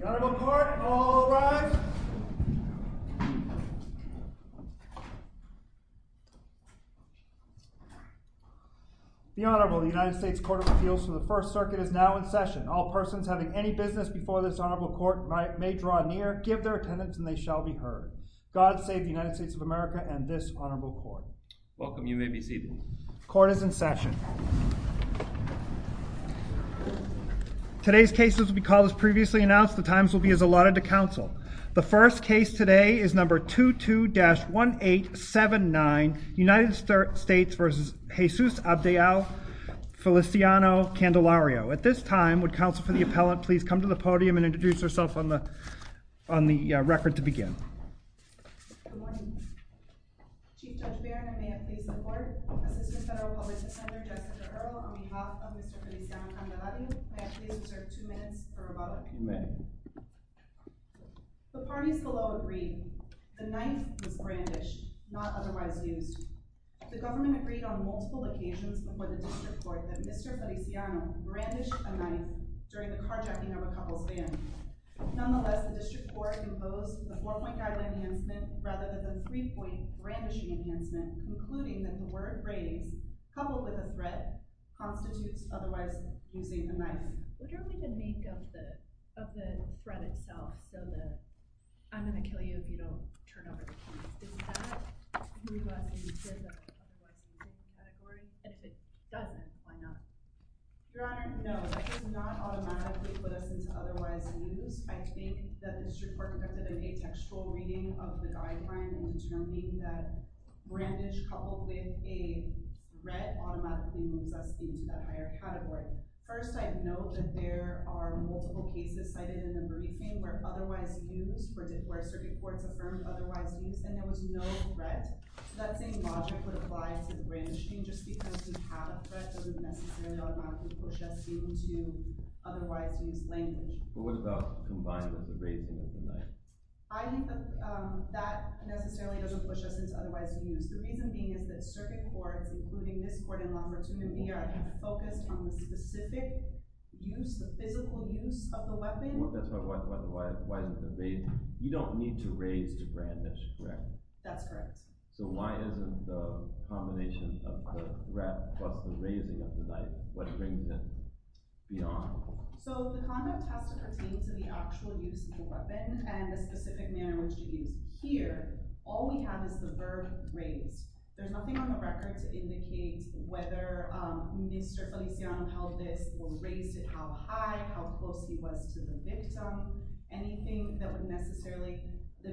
The Honourable Court, all rise. The Honourable United States Court of Appeals for the First Circuit is now in session. All persons having any business before this Honourable Court may draw near, give their attendance, and they shall be heard. God save the United States of America and this Honourable Court. Welcome, you may be seated. Court is in session. Today's case as we call this previously announced, the times will be as allotted to counsel. The first case today is number 22-1879, United States v. Jesus Abdiel Feliciano-Candelario. At this time, would counsel for the appellant please come to the podium and introduce herself on the record to begin. Good morning. Chief Judge Barron, I may I please support? Assistant Federal Public Defender, Jessica Earle, on behalf of Mr. Feliciano-Candelario, may I please reserve two minutes for rebuttal? You may. The parties below agree, the knife was brandished, not otherwise used. The government agreed on multiple occasions before the District Court that Mr. Feliciano brandished a knife during the carjacking of a couple's van. Nonetheless, the District Court opposed the four-point guideline enhancement rather than the three-point brandishing enhancement, concluding that the word raised, coupled with a threat, constitutes otherwise using a knife. What do I mean by the make of the threat itself? So the, I'm going to kill you if you don't turn over the keys. Is that who you're asking to give the other words in this category? And if it doesn't, why not? Your Honor, no, that does not automatically put us into otherwise used. I think that the District Court conducted a textual reading of the guideline, noting that brandish coupled with a threat automatically moves us into that higher category. First, I note that there are multiple cases cited in the briefing where otherwise used, where circuit courts affirmed otherwise used, and there was no threat. So that same logic would apply to the brandishing, just because we have a threat doesn't necessarily automatically push us into otherwise used language. But what about combined with the raising of the knife? I think that that necessarily doesn't push us into otherwise used. The reason being is that circuit courts, including this court in Lombardton in New York, focused on the specific use, the physical use of the weapon. That's right. Why is it the raising? You don't need to raise to brandish, correct? That's correct. So why isn't the combination of the threat plus the raising of the knife? What brings it beyond? So the conduct has to pertain to the actual use of the weapon and the specific manner in which it is used. Here, all we have is the verb raise. There's nothing on the record to indicate whether Mr. Feliciano pelvis was raised at how high, how close he was to the victim. Anything that would necessarily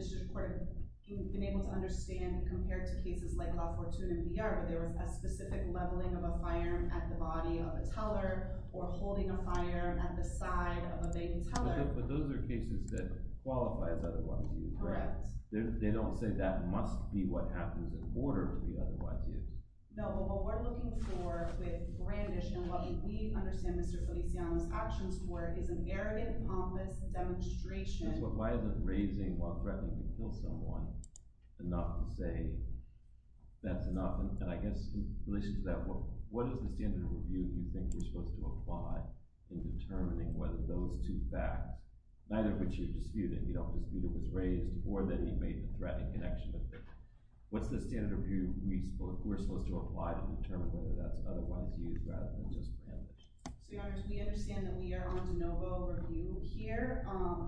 support him being able to understand compared to cases like La Fortuna in VR, where there was a specific leveling of a firearm at the body of a teller or holding a firearm at the side of a baby teller. But those are cases that qualify as otherwise used, correct? Correct. They don't say that must be what happens in order to be otherwise used. No, but what we're looking for with brandish and what we understand Mr. Feliciano's actions were is an arrogant, pompous demonstration. Why isn't raising while threatening to kill someone enough to say that's enough? And I guess in relation to that, what is the standard of review you think you're supposed to apply in determining whether those two facts, neither of which you're disputing, you don't dispute it was raised or that he made a threatening connection to the victim. What's the standard of review we spoke? We're supposed to apply to determine whether that's other ones rather than just. So we understand that we are on de novo review here.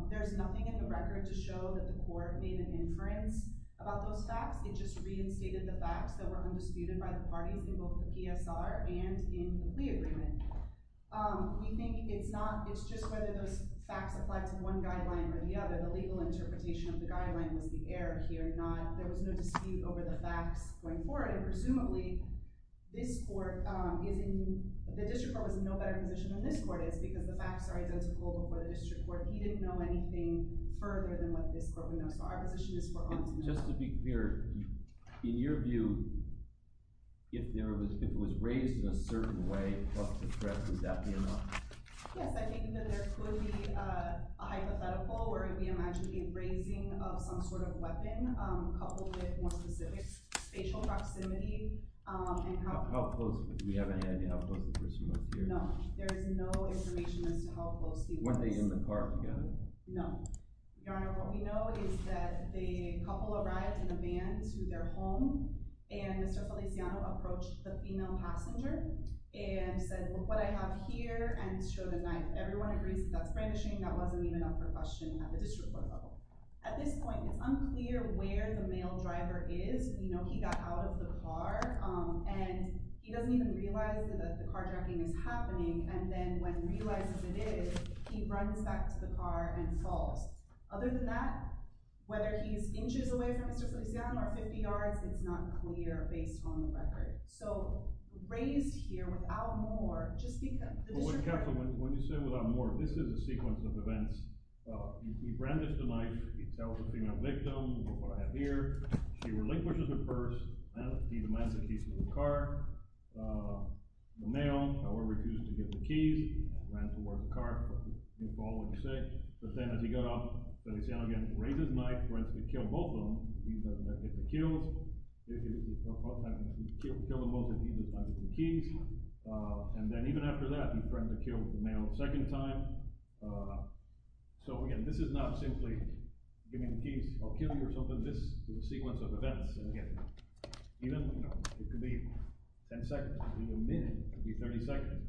There's nothing in the record to show that the court made an inference about those facts. It just reinstated the facts that were undisputed by the parties in both the PSR and in the agreement. We think it's not. It's just whether those facts apply to one guideline or the other. The legal interpretation of the guideline was the air here. Not there was no dispute over the facts going forward. Presumably this court is in the district court was in no better position than this court is because the facts are identical. But the district court, he didn't know anything further than what this court would know. So our position is just to be clear. In your view, if there was if it was raised in a certain way of the press, would that be enough? Yes, I think that there could be a hypothetical where we imagine the raising of some sort of weapon coupled with more specific spatial proximity. And how close we have any idea how close the person was here. No, there is no information as to how close. Were they in the car together? No. Your Honor, what we know is that the couple arrived in a van to their home. And Mr. Feliciano approached the female passenger and said, look what I have here. And showed a knife. Everyone agrees that's brandishing. That wasn't even up for question at the district level. At this point, it's unclear where the male driver is. You know, he got out of the car and he doesn't even realize that the carjacking is happening. And then when he realizes it is, he runs back to the car and falls. Other than that, whether he's inches away from Mr. Feliciano or 50 yards, it's not clear based on the record. So, raised here without more, just because. When you say without more, this is a sequence of events. He brandished a knife. He tells the female victim, look what I have here. She relinquishes her purse. He demands the keys to the car. The male, however, refuses to give the keys. He demands to work the car. But then as he got out, Feliciano again raises the knife, tries to kill both of them. He doesn't have the keys. He kills them both and he doesn't have the keys. And then even after that, he tries to kill the male a second time. So, again, this is not simply giving the keys or killing or something. This is a sequence of events. Again, it could be ten seconds. It could be a minute. It could be 30 seconds.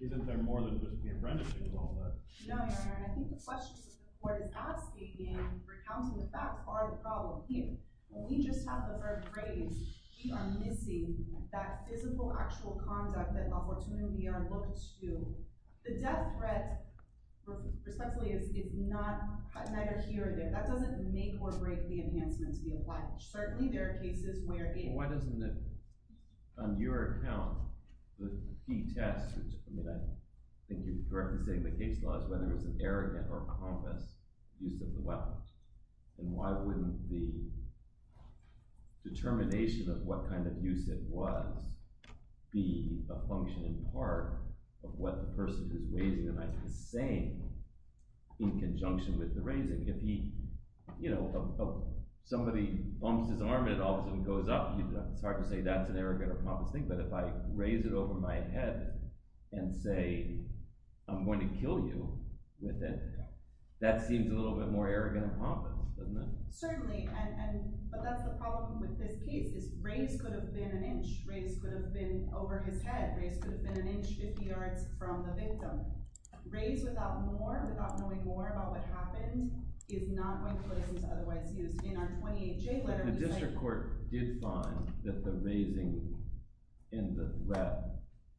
Isn't there more than just being brandished and all that? No, Your Honor. I think the question to the court is asking and recounting the fact part of the problem here. When we just have the third grade, we are missing that physical, actual conduct that La Fortuna and VR look to. The death threat, respectfully, is neither here nor there. That doesn't make or break the enhancement to the alleged. Certainly, there are cases where it is. Well, why doesn't it, on your account, the key test, which I think you directly say in the case law, is whether it's an arrogant or convinced use of the weapons? And why wouldn't the determination of what kind of use it was be a function and part of what the person who's raising the knife is saying in conjunction with the raising? If somebody bumps his arm and it all of a sudden goes up, it's hard to say that's an arrogant or convinced thing. But if I raise it over my head and say, I'm going to kill you with it, that seems a little bit more arrogant or convinced, doesn't it? Certainly. But that's the problem with this case is raise could have been an inch. Raise could have been over his head. Raise could have been an inch, 50 yards from the victim. Raise without more, without knowing more about what happened, is not going to put it into otherwise use. In our 28J letter, we say— But the district court did find that the raising and the threat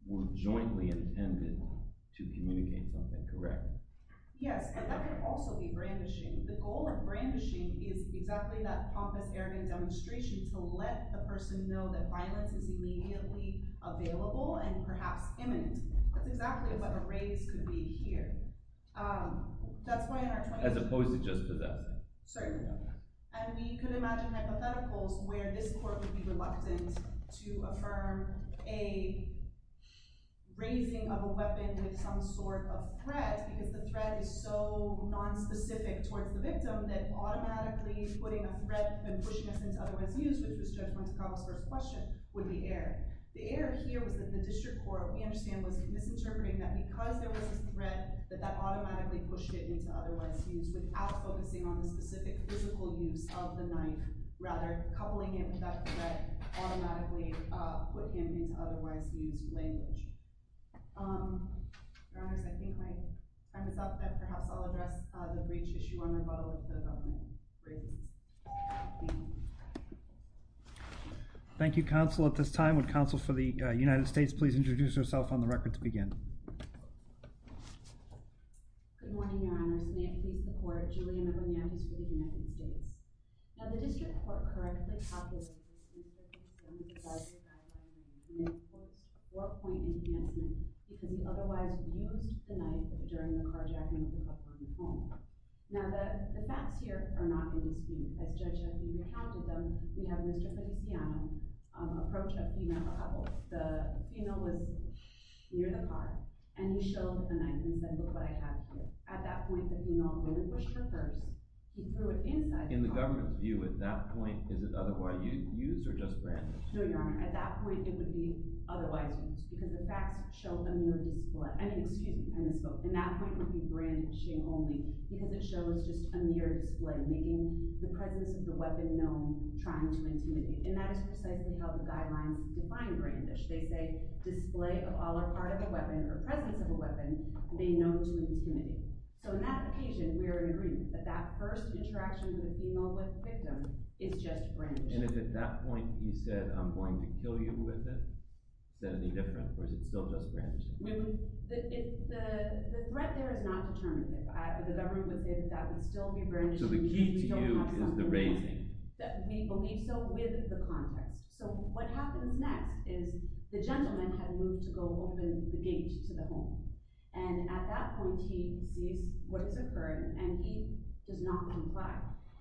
were jointly intended to communicate something, correct? Yes, and that could also be brandishing. The goal of brandishing is exactly that pompous, arrogant demonstration to let the person know that violence is immediately available and perhaps imminent. That's exactly what a raise could be here. That's why in our 28— As opposed to just to that. Certainly not. And we could imagine hypotheticals where this court would be reluctant to affirm a raising of a weapon with some sort of threat because the threat is so nonspecific towards the victim that automatically putting a threat and pushing us into otherwise use, which was Judge Wynter-Carlisle's first question, would be error. The error here was that the district court, we understand, was misinterpreting that because there was a threat, that that automatically pushed it into otherwise use without focusing on the specific physical use of the knife. Rather, coupling it with that threat automatically put him into otherwise use language. Your Honors, I think my time is up. Perhaps I'll address the breach issue on rebuttal with the government. Thank you. Thank you, Counsel. At this time, would Counsel for the United States please introduce herself on the record to begin? Good morning, Your Honors. May it please the Court, Julianna Bernakis for the United States. Now, the district court correctly calculated that the knife was in place when the survivor died last night. And it was a four-point enhancement because he otherwise used the knife during the carjacking of the couple in the home. Now, the facts here are not in dispute. As Judge Wynter-Carlisle recounted them, we have Mr. Feliciano approach a female couple. The female was near the car, and he showed the knife, and he said, look what I have here. At that point, the female went and pushed her purse. He threw it inside the car. In the government's view, at that point, is it otherwise use or just brandish? No, Your Honor. At that point, it would be otherwise use because the facts show them no dispute. I mean, excuse me. And that point would be brandishing only because it shows just a mere display, making the presence of the weapon known, trying to intimidate. And that is precisely how the guidelines define brandish. They say display of all or part of a weapon or presence of a weapon being known to intimidate. So in that occasion, we are in agreement that that first interaction with the female victim is just brandish. And if at that point he said, I'm going to kill you with it, is that any different, or is it still just brandishing? The threat there is not determinative. The government would think that would still be brandishing. So the key to you is the raising. We believe so with the context. So what happens next is the gentleman had moved to go open the gate to the home. And at that point, he sees what has occurred, and he does not comply.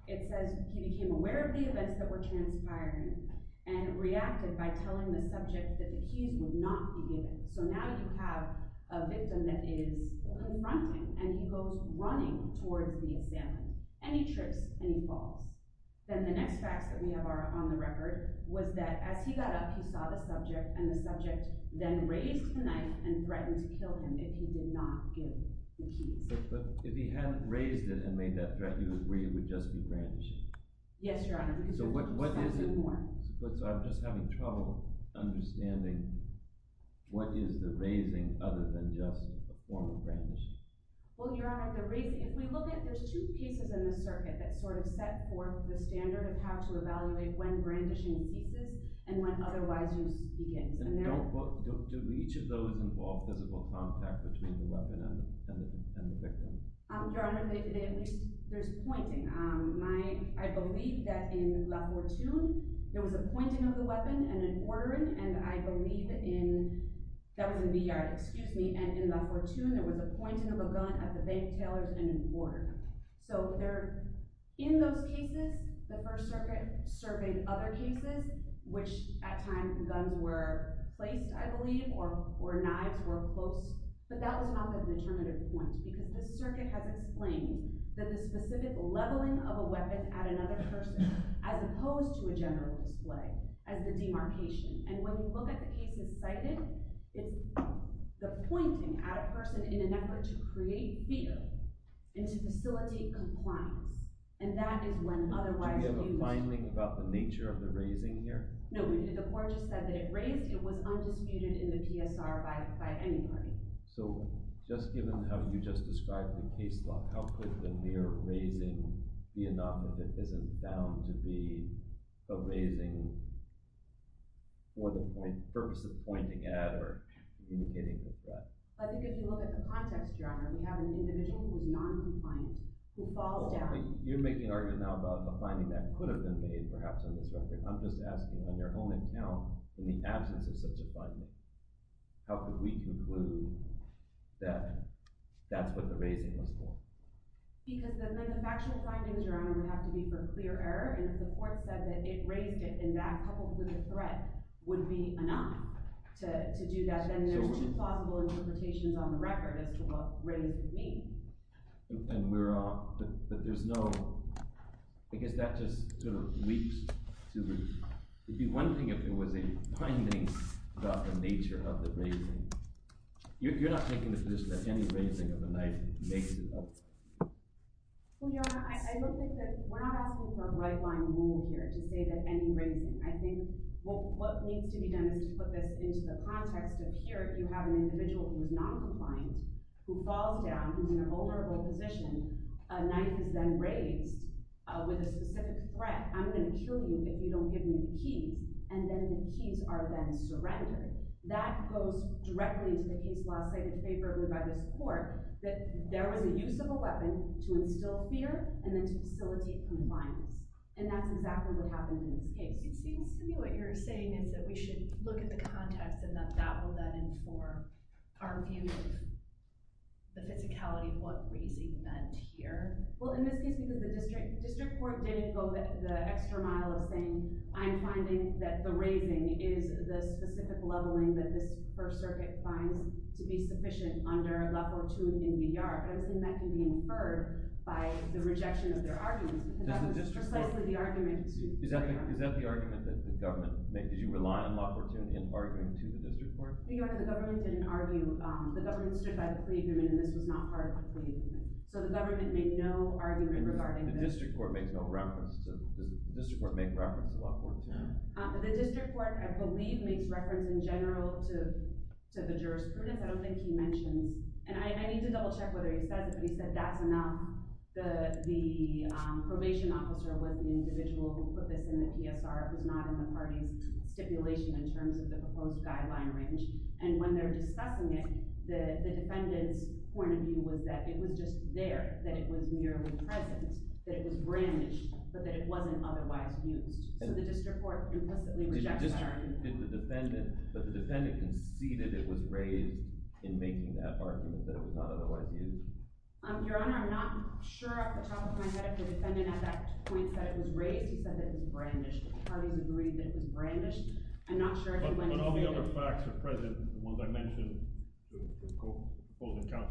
It says he became aware of the events that were transpiring and reacted by telling the subject that the keys would not be given. So now you have a victim that is confronting, and he goes running toward the assailant. And he trips, and he falls. Then the next facts that we have on the record was that as he got up, he saw the subject, and the subject then raised the knife and threatened to kill him if he did not give the keys. But if he hadn't raised it and made that threat, you would agree it would just be brandishing? Yes, Your Honor. So what is it? So I'm just having trouble understanding what is the raising other than just a form of brandishing. Well, Your Honor, if we look at it, there's two pieces in the circuit that sort of set forth the standard of how to evaluate when brandishing exists and when otherwise use begins. Do each of those involve physical contact between the weapon and the victim? Your Honor, there's pointing. I believe that in La Fortuna, there was a pointing of the weapon and an ordering. And I believe in – that was in Villar, excuse me. And in La Fortuna, there was a pointing of a gun at the bank tailors and an ordering. So in those cases, the First Circuit surveyed other cases, which at times guns were placed, I believe, or knives were close. But that was not the determinative point because the circuit has explained that the specific leveling of a weapon at another person as opposed to a general display as the demarcation. And when you look at the cases cited, it's the pointing at a person in an effort to create fear and to facilitate compliance. And that is when otherwise use begins. Do we have a binding about the nature of the raising here? No. The court just said that it raised. It was undisputed in the PSR by anybody. So just given how you just described the case law, how could the mere raising be enough if it isn't bound to be the raising for the purpose of pointing at or communicating with the threat? I think if you look at the context, Your Honor, we have an individual who's noncompliant, who falls down. You're making an argument now about the finding that could have been made perhaps on this record. I'm just asking on your own account, in the absence of such a finding, how could we conclude that that's what the raising was for? Because the factual findings, Your Honor, would have to be for clear error. And if the court said that it raised it and that coupled with a threat would be enough to do that, then there's two plausible interpretations on the record as to what raised means. But there's no – I guess that just sort of leaps to the – it'd be one thing if it was a finding about the nature of the raising. You're not making the position that any raising of a knife makes it up. Well, Your Honor, I looked at this – we're not asking for a right-line rule here to say that any raising – I think what needs to be done is to put this into the context of here, you have an individual who is noncompliant, who falls down, who's in an over-the-board position. A knife is then raised with a specific threat. I'm going to kill you if you don't give me the keys. And then the keys are then surrendered. That goes directly into the case law cited favorably by this court that there was a use of a weapon to instill fear and then to facilitate compliance. And that's exactly what happened in this case. It seems to me what you're saying is that we should look at the context and that that will then inform our view of the physicality of what raising meant here. Well, in this case, the district court didn't go the extra mile of saying, I'm finding that the raising is the specific leveling that this First Circuit finds to be sufficient under La Fortuna in New York. I don't think that can be inferred by the rejection of their arguments. Is that the argument that the government made? Did you rely on La Fortuna in arguing to the district court? The government didn't argue. The government stood by the pre-agreement, and this was not part of the pre-agreement. So the government made no argument regarding this. The district court makes no reference. Does the district court make reference to La Fortuna? The district court, I believe, makes reference in general to the jurisprudence. I don't think he mentions. And I need to double check whether he said that's enough. The probation officer was the individual who put this in the PSR. It was not in the party's stipulation in terms of the proposed guideline range. And when they were discussing it, the defendant's point of view was that it was just there, that it was merely present, that it was brandished, but that it wasn't otherwise used. So the district court implicitly rejected that argument. But the defendant conceded it was raised in making that argument, that it was not otherwise used. Your Honor, I'm not sure off the top of my head if the defendant at that point said it was raised. He said that it was brandished. The party's agreed that it was brandished. I'm not sure if he went into it. But when all the other facts are present, the ones I mentioned, the proposed account,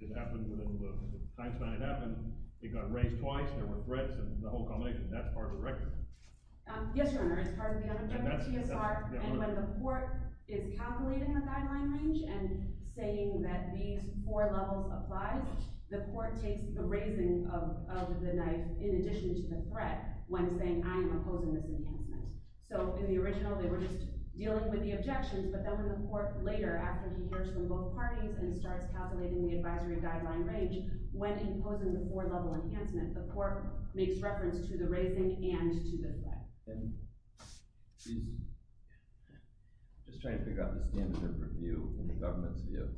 it happened within the time span it happened. It got raised twice. There were threats and the whole combination. That's part of the record. Yes, Your Honor. It's part of the understanding of the PSR. And when the court is calculating the guideline range and saying that these four levels apply, the court takes the raising of the knife in addition to the threat when saying, I am opposing this enhancement. So in the original, they were just dealing with the objections. But then when the court later, after he hears from both parties and starts calculating the advisory guideline range, when imposing the four-level enhancement, the court makes reference to the raising and to the threat. I'm just trying to figure out the standard of review in the government's view.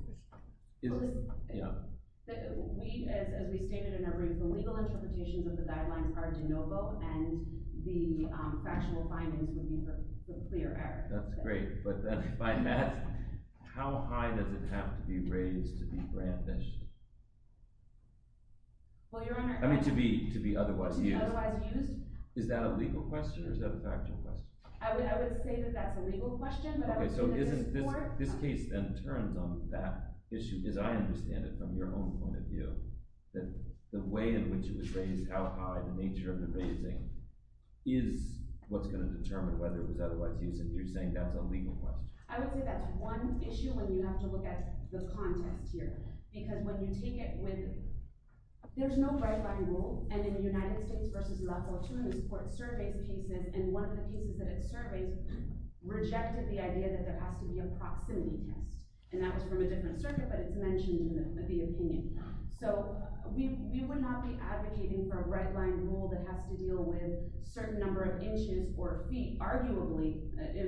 As we stated in our brief, the legal interpretations of the guidelines are de novo, and the factual findings would be for clear evidence. That's great. But by that, how high does it have to be raised to be brandished? I mean to be otherwise used. Otherwise used? Is that a legal question? Or is that a factual question? I would say that that's a legal question. Okay. So this case then turns on that issue, as I understand it, from your own point of view, that the way in which it was raised, how high, the nature of the raising, is what's going to determine whether it was otherwise used if you're saying that's a legal question. I would say that's one issue when you have to look at the context here. Because when you take it with – there's no right-line rule. And in the United States v. La Fortuna, the court surveys cases, and one of the cases that it surveys rejected the idea that there has to be a proximity test. And that was from a different circuit, but it's mentioned in the opinion. So we would not be advocating for a right-line rule that has to deal with a certain number of inches or feet. Arguably,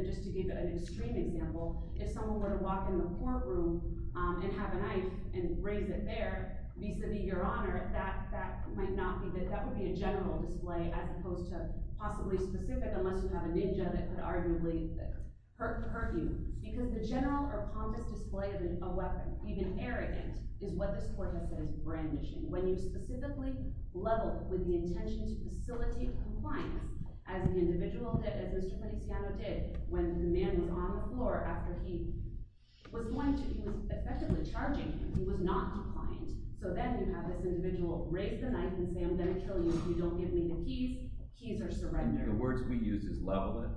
just to give an extreme example, if someone were to walk in the courtroom and have a knife and raise it there vis-a-vis your honor, that might not be – that would be a general display as opposed to possibly specific unless you have a ninja that could arguably hurt you. Because the general or pompous display of a weapon, even arrogant, is what this court has said is brandishing. When you specifically level with the intention to facilitate compliance, as the individual did, as Mr. Poliziano did, when the man was on the floor after he was going to – he was effectively charging him. He was not defiant. So then you have this individual raise the knife and say, I'm going to kill you if you don't give me the keys. Keys are surrendered. The words we use is level it.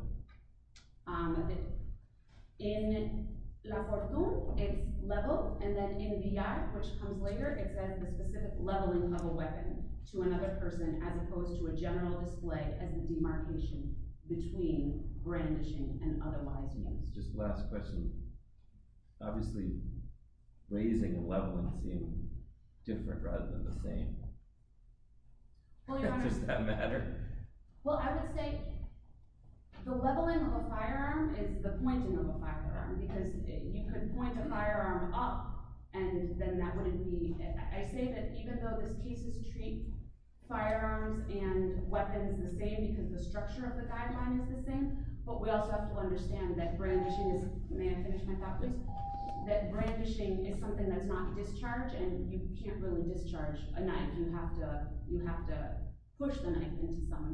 In La Corzón, it's level, and then in Villar, which comes later, it says the specific leveling of a weapon to another person as opposed to a general display as the demarcation between brandishing and otherwise. Just last question. Obviously, raising and leveling seem different rather than the same. Does that matter? Well, I would say the leveling of a firearm is the pointing of a firearm because you could point a firearm up, and then that wouldn't be – I say that even though these cases treat firearms and weapons the same because the structure of the guideline is the same, but we also have to understand that brandishing is – may I finish my thought, please? You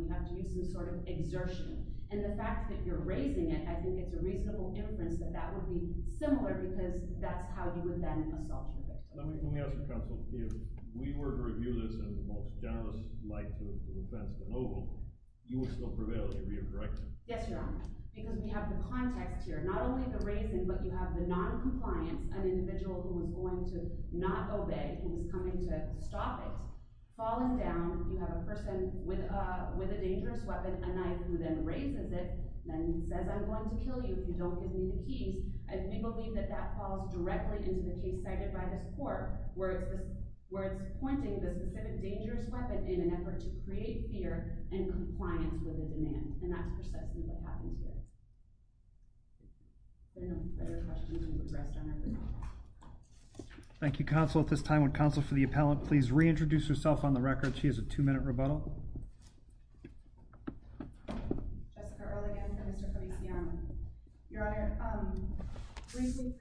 have to use some sort of exertion, and the fact that you're raising it, I think it's a reasonable inference that that would be similar because that's how you would then assault your victim. Let me ask you, counsel. If we were to review this in the most generous light of the defense, the noble, you would still prevail if you were to be a director? Yes, Your Honor, because we have the context here. Not only the raising, but you have the noncompliance, an individual who is going to not obey and is coming to stop it. Falling down, you have a person with a dangerous weapon, a knife, who then raises it and says, I'm going to kill you if you don't give me the keys. We believe that that falls directly into the case cited by this court, where it's pointing the specific dangerous weapon in an effort to create fear and compliance with a demand, and that's precisely what happens here. Thank you, counsel. At this time, would counsel for the appellant please reintroduce herself on the record? She has a two-minute rebuttal. Jessica Ehrligan for Mr. Feliciano. Your Honor, recently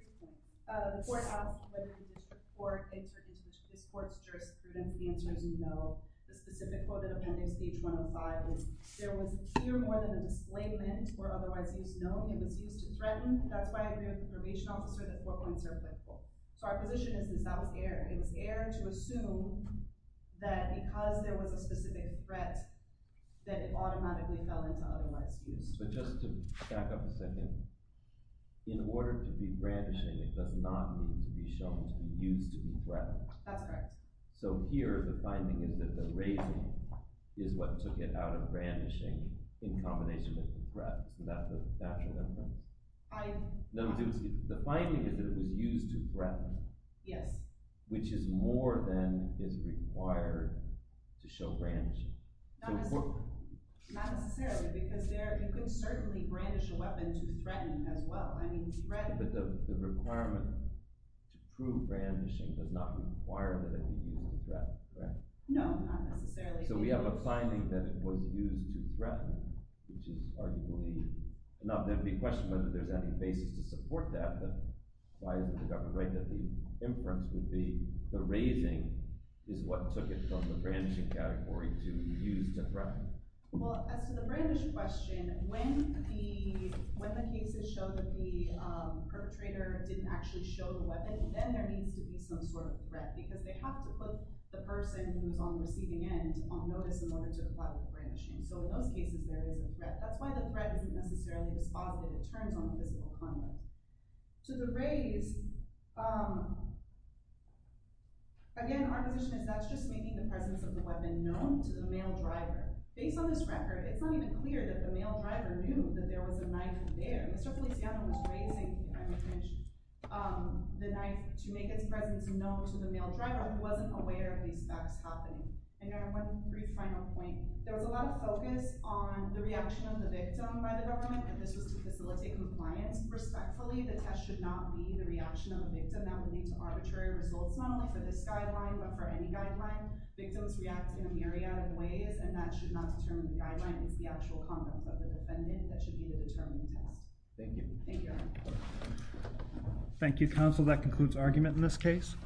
the court asked whether we would support a certainty to this court's jurisprudence. The answer is no. The specific quote of the appendix, page 105, is there was here more than a disclaimant or otherwise used. No, it was used to threaten. That's why I agree with the probation officer that four points are applicable. So our position is that that was error. It was error to assume that because there was a specific threat, that it automatically fell into otherwise used. But just to back up a second, in order to be brandishing, it does not mean to be shown to be used to be threatened. That's correct. So here, the finding is that the raising is what took it out of brandishing in combination with the threat. So that's a natural inference. The finding is that it was used to threaten. Yes. Which is more than is required to show brandishing. Not necessarily, because you could certainly brandish a weapon to threaten as well. But the requirement to prove brandishing does not require that it would be used to threaten, correct? No, not necessarily. So we have a finding that it was used to threaten, which is arguable. Now, there would be a question whether there's any basis to support that, but why isn't the government right that the inference would be the raising is what took it from the brandishing category to used to threaten? Well, as to the brandish question, when the cases show that the perpetrator didn't actually show the weapon, then there needs to be some sort of threat. Because they have to put the person who's on the receiving end on notice in order to apply the brandishing. So in those cases, there is a threat. That's why the threat isn't necessarily the spot that it turns on physical conduct. To the raise, again, our position is that's just making the presence of the weapon known to the male driver. Based on this record, it's not even clear that the male driver knew that there was a knife there. Mr. Feliciano was raising the knife to make its presence known to the male driver, who wasn't aware of these facts happening. And I have one brief final point. There was a lot of focus on the reaction of the victim by the government, and this was to facilitate compliance. Respectfully, the test should not be the reaction of the victim. That would lead to arbitrary results, not only for this guideline, but for any guideline. Victims react in a myriad of ways, and that should not determine the guideline. It's the actual conduct of the defendant that should be the determining test. Thank you. Thank you, counsel. That concludes argument in this case.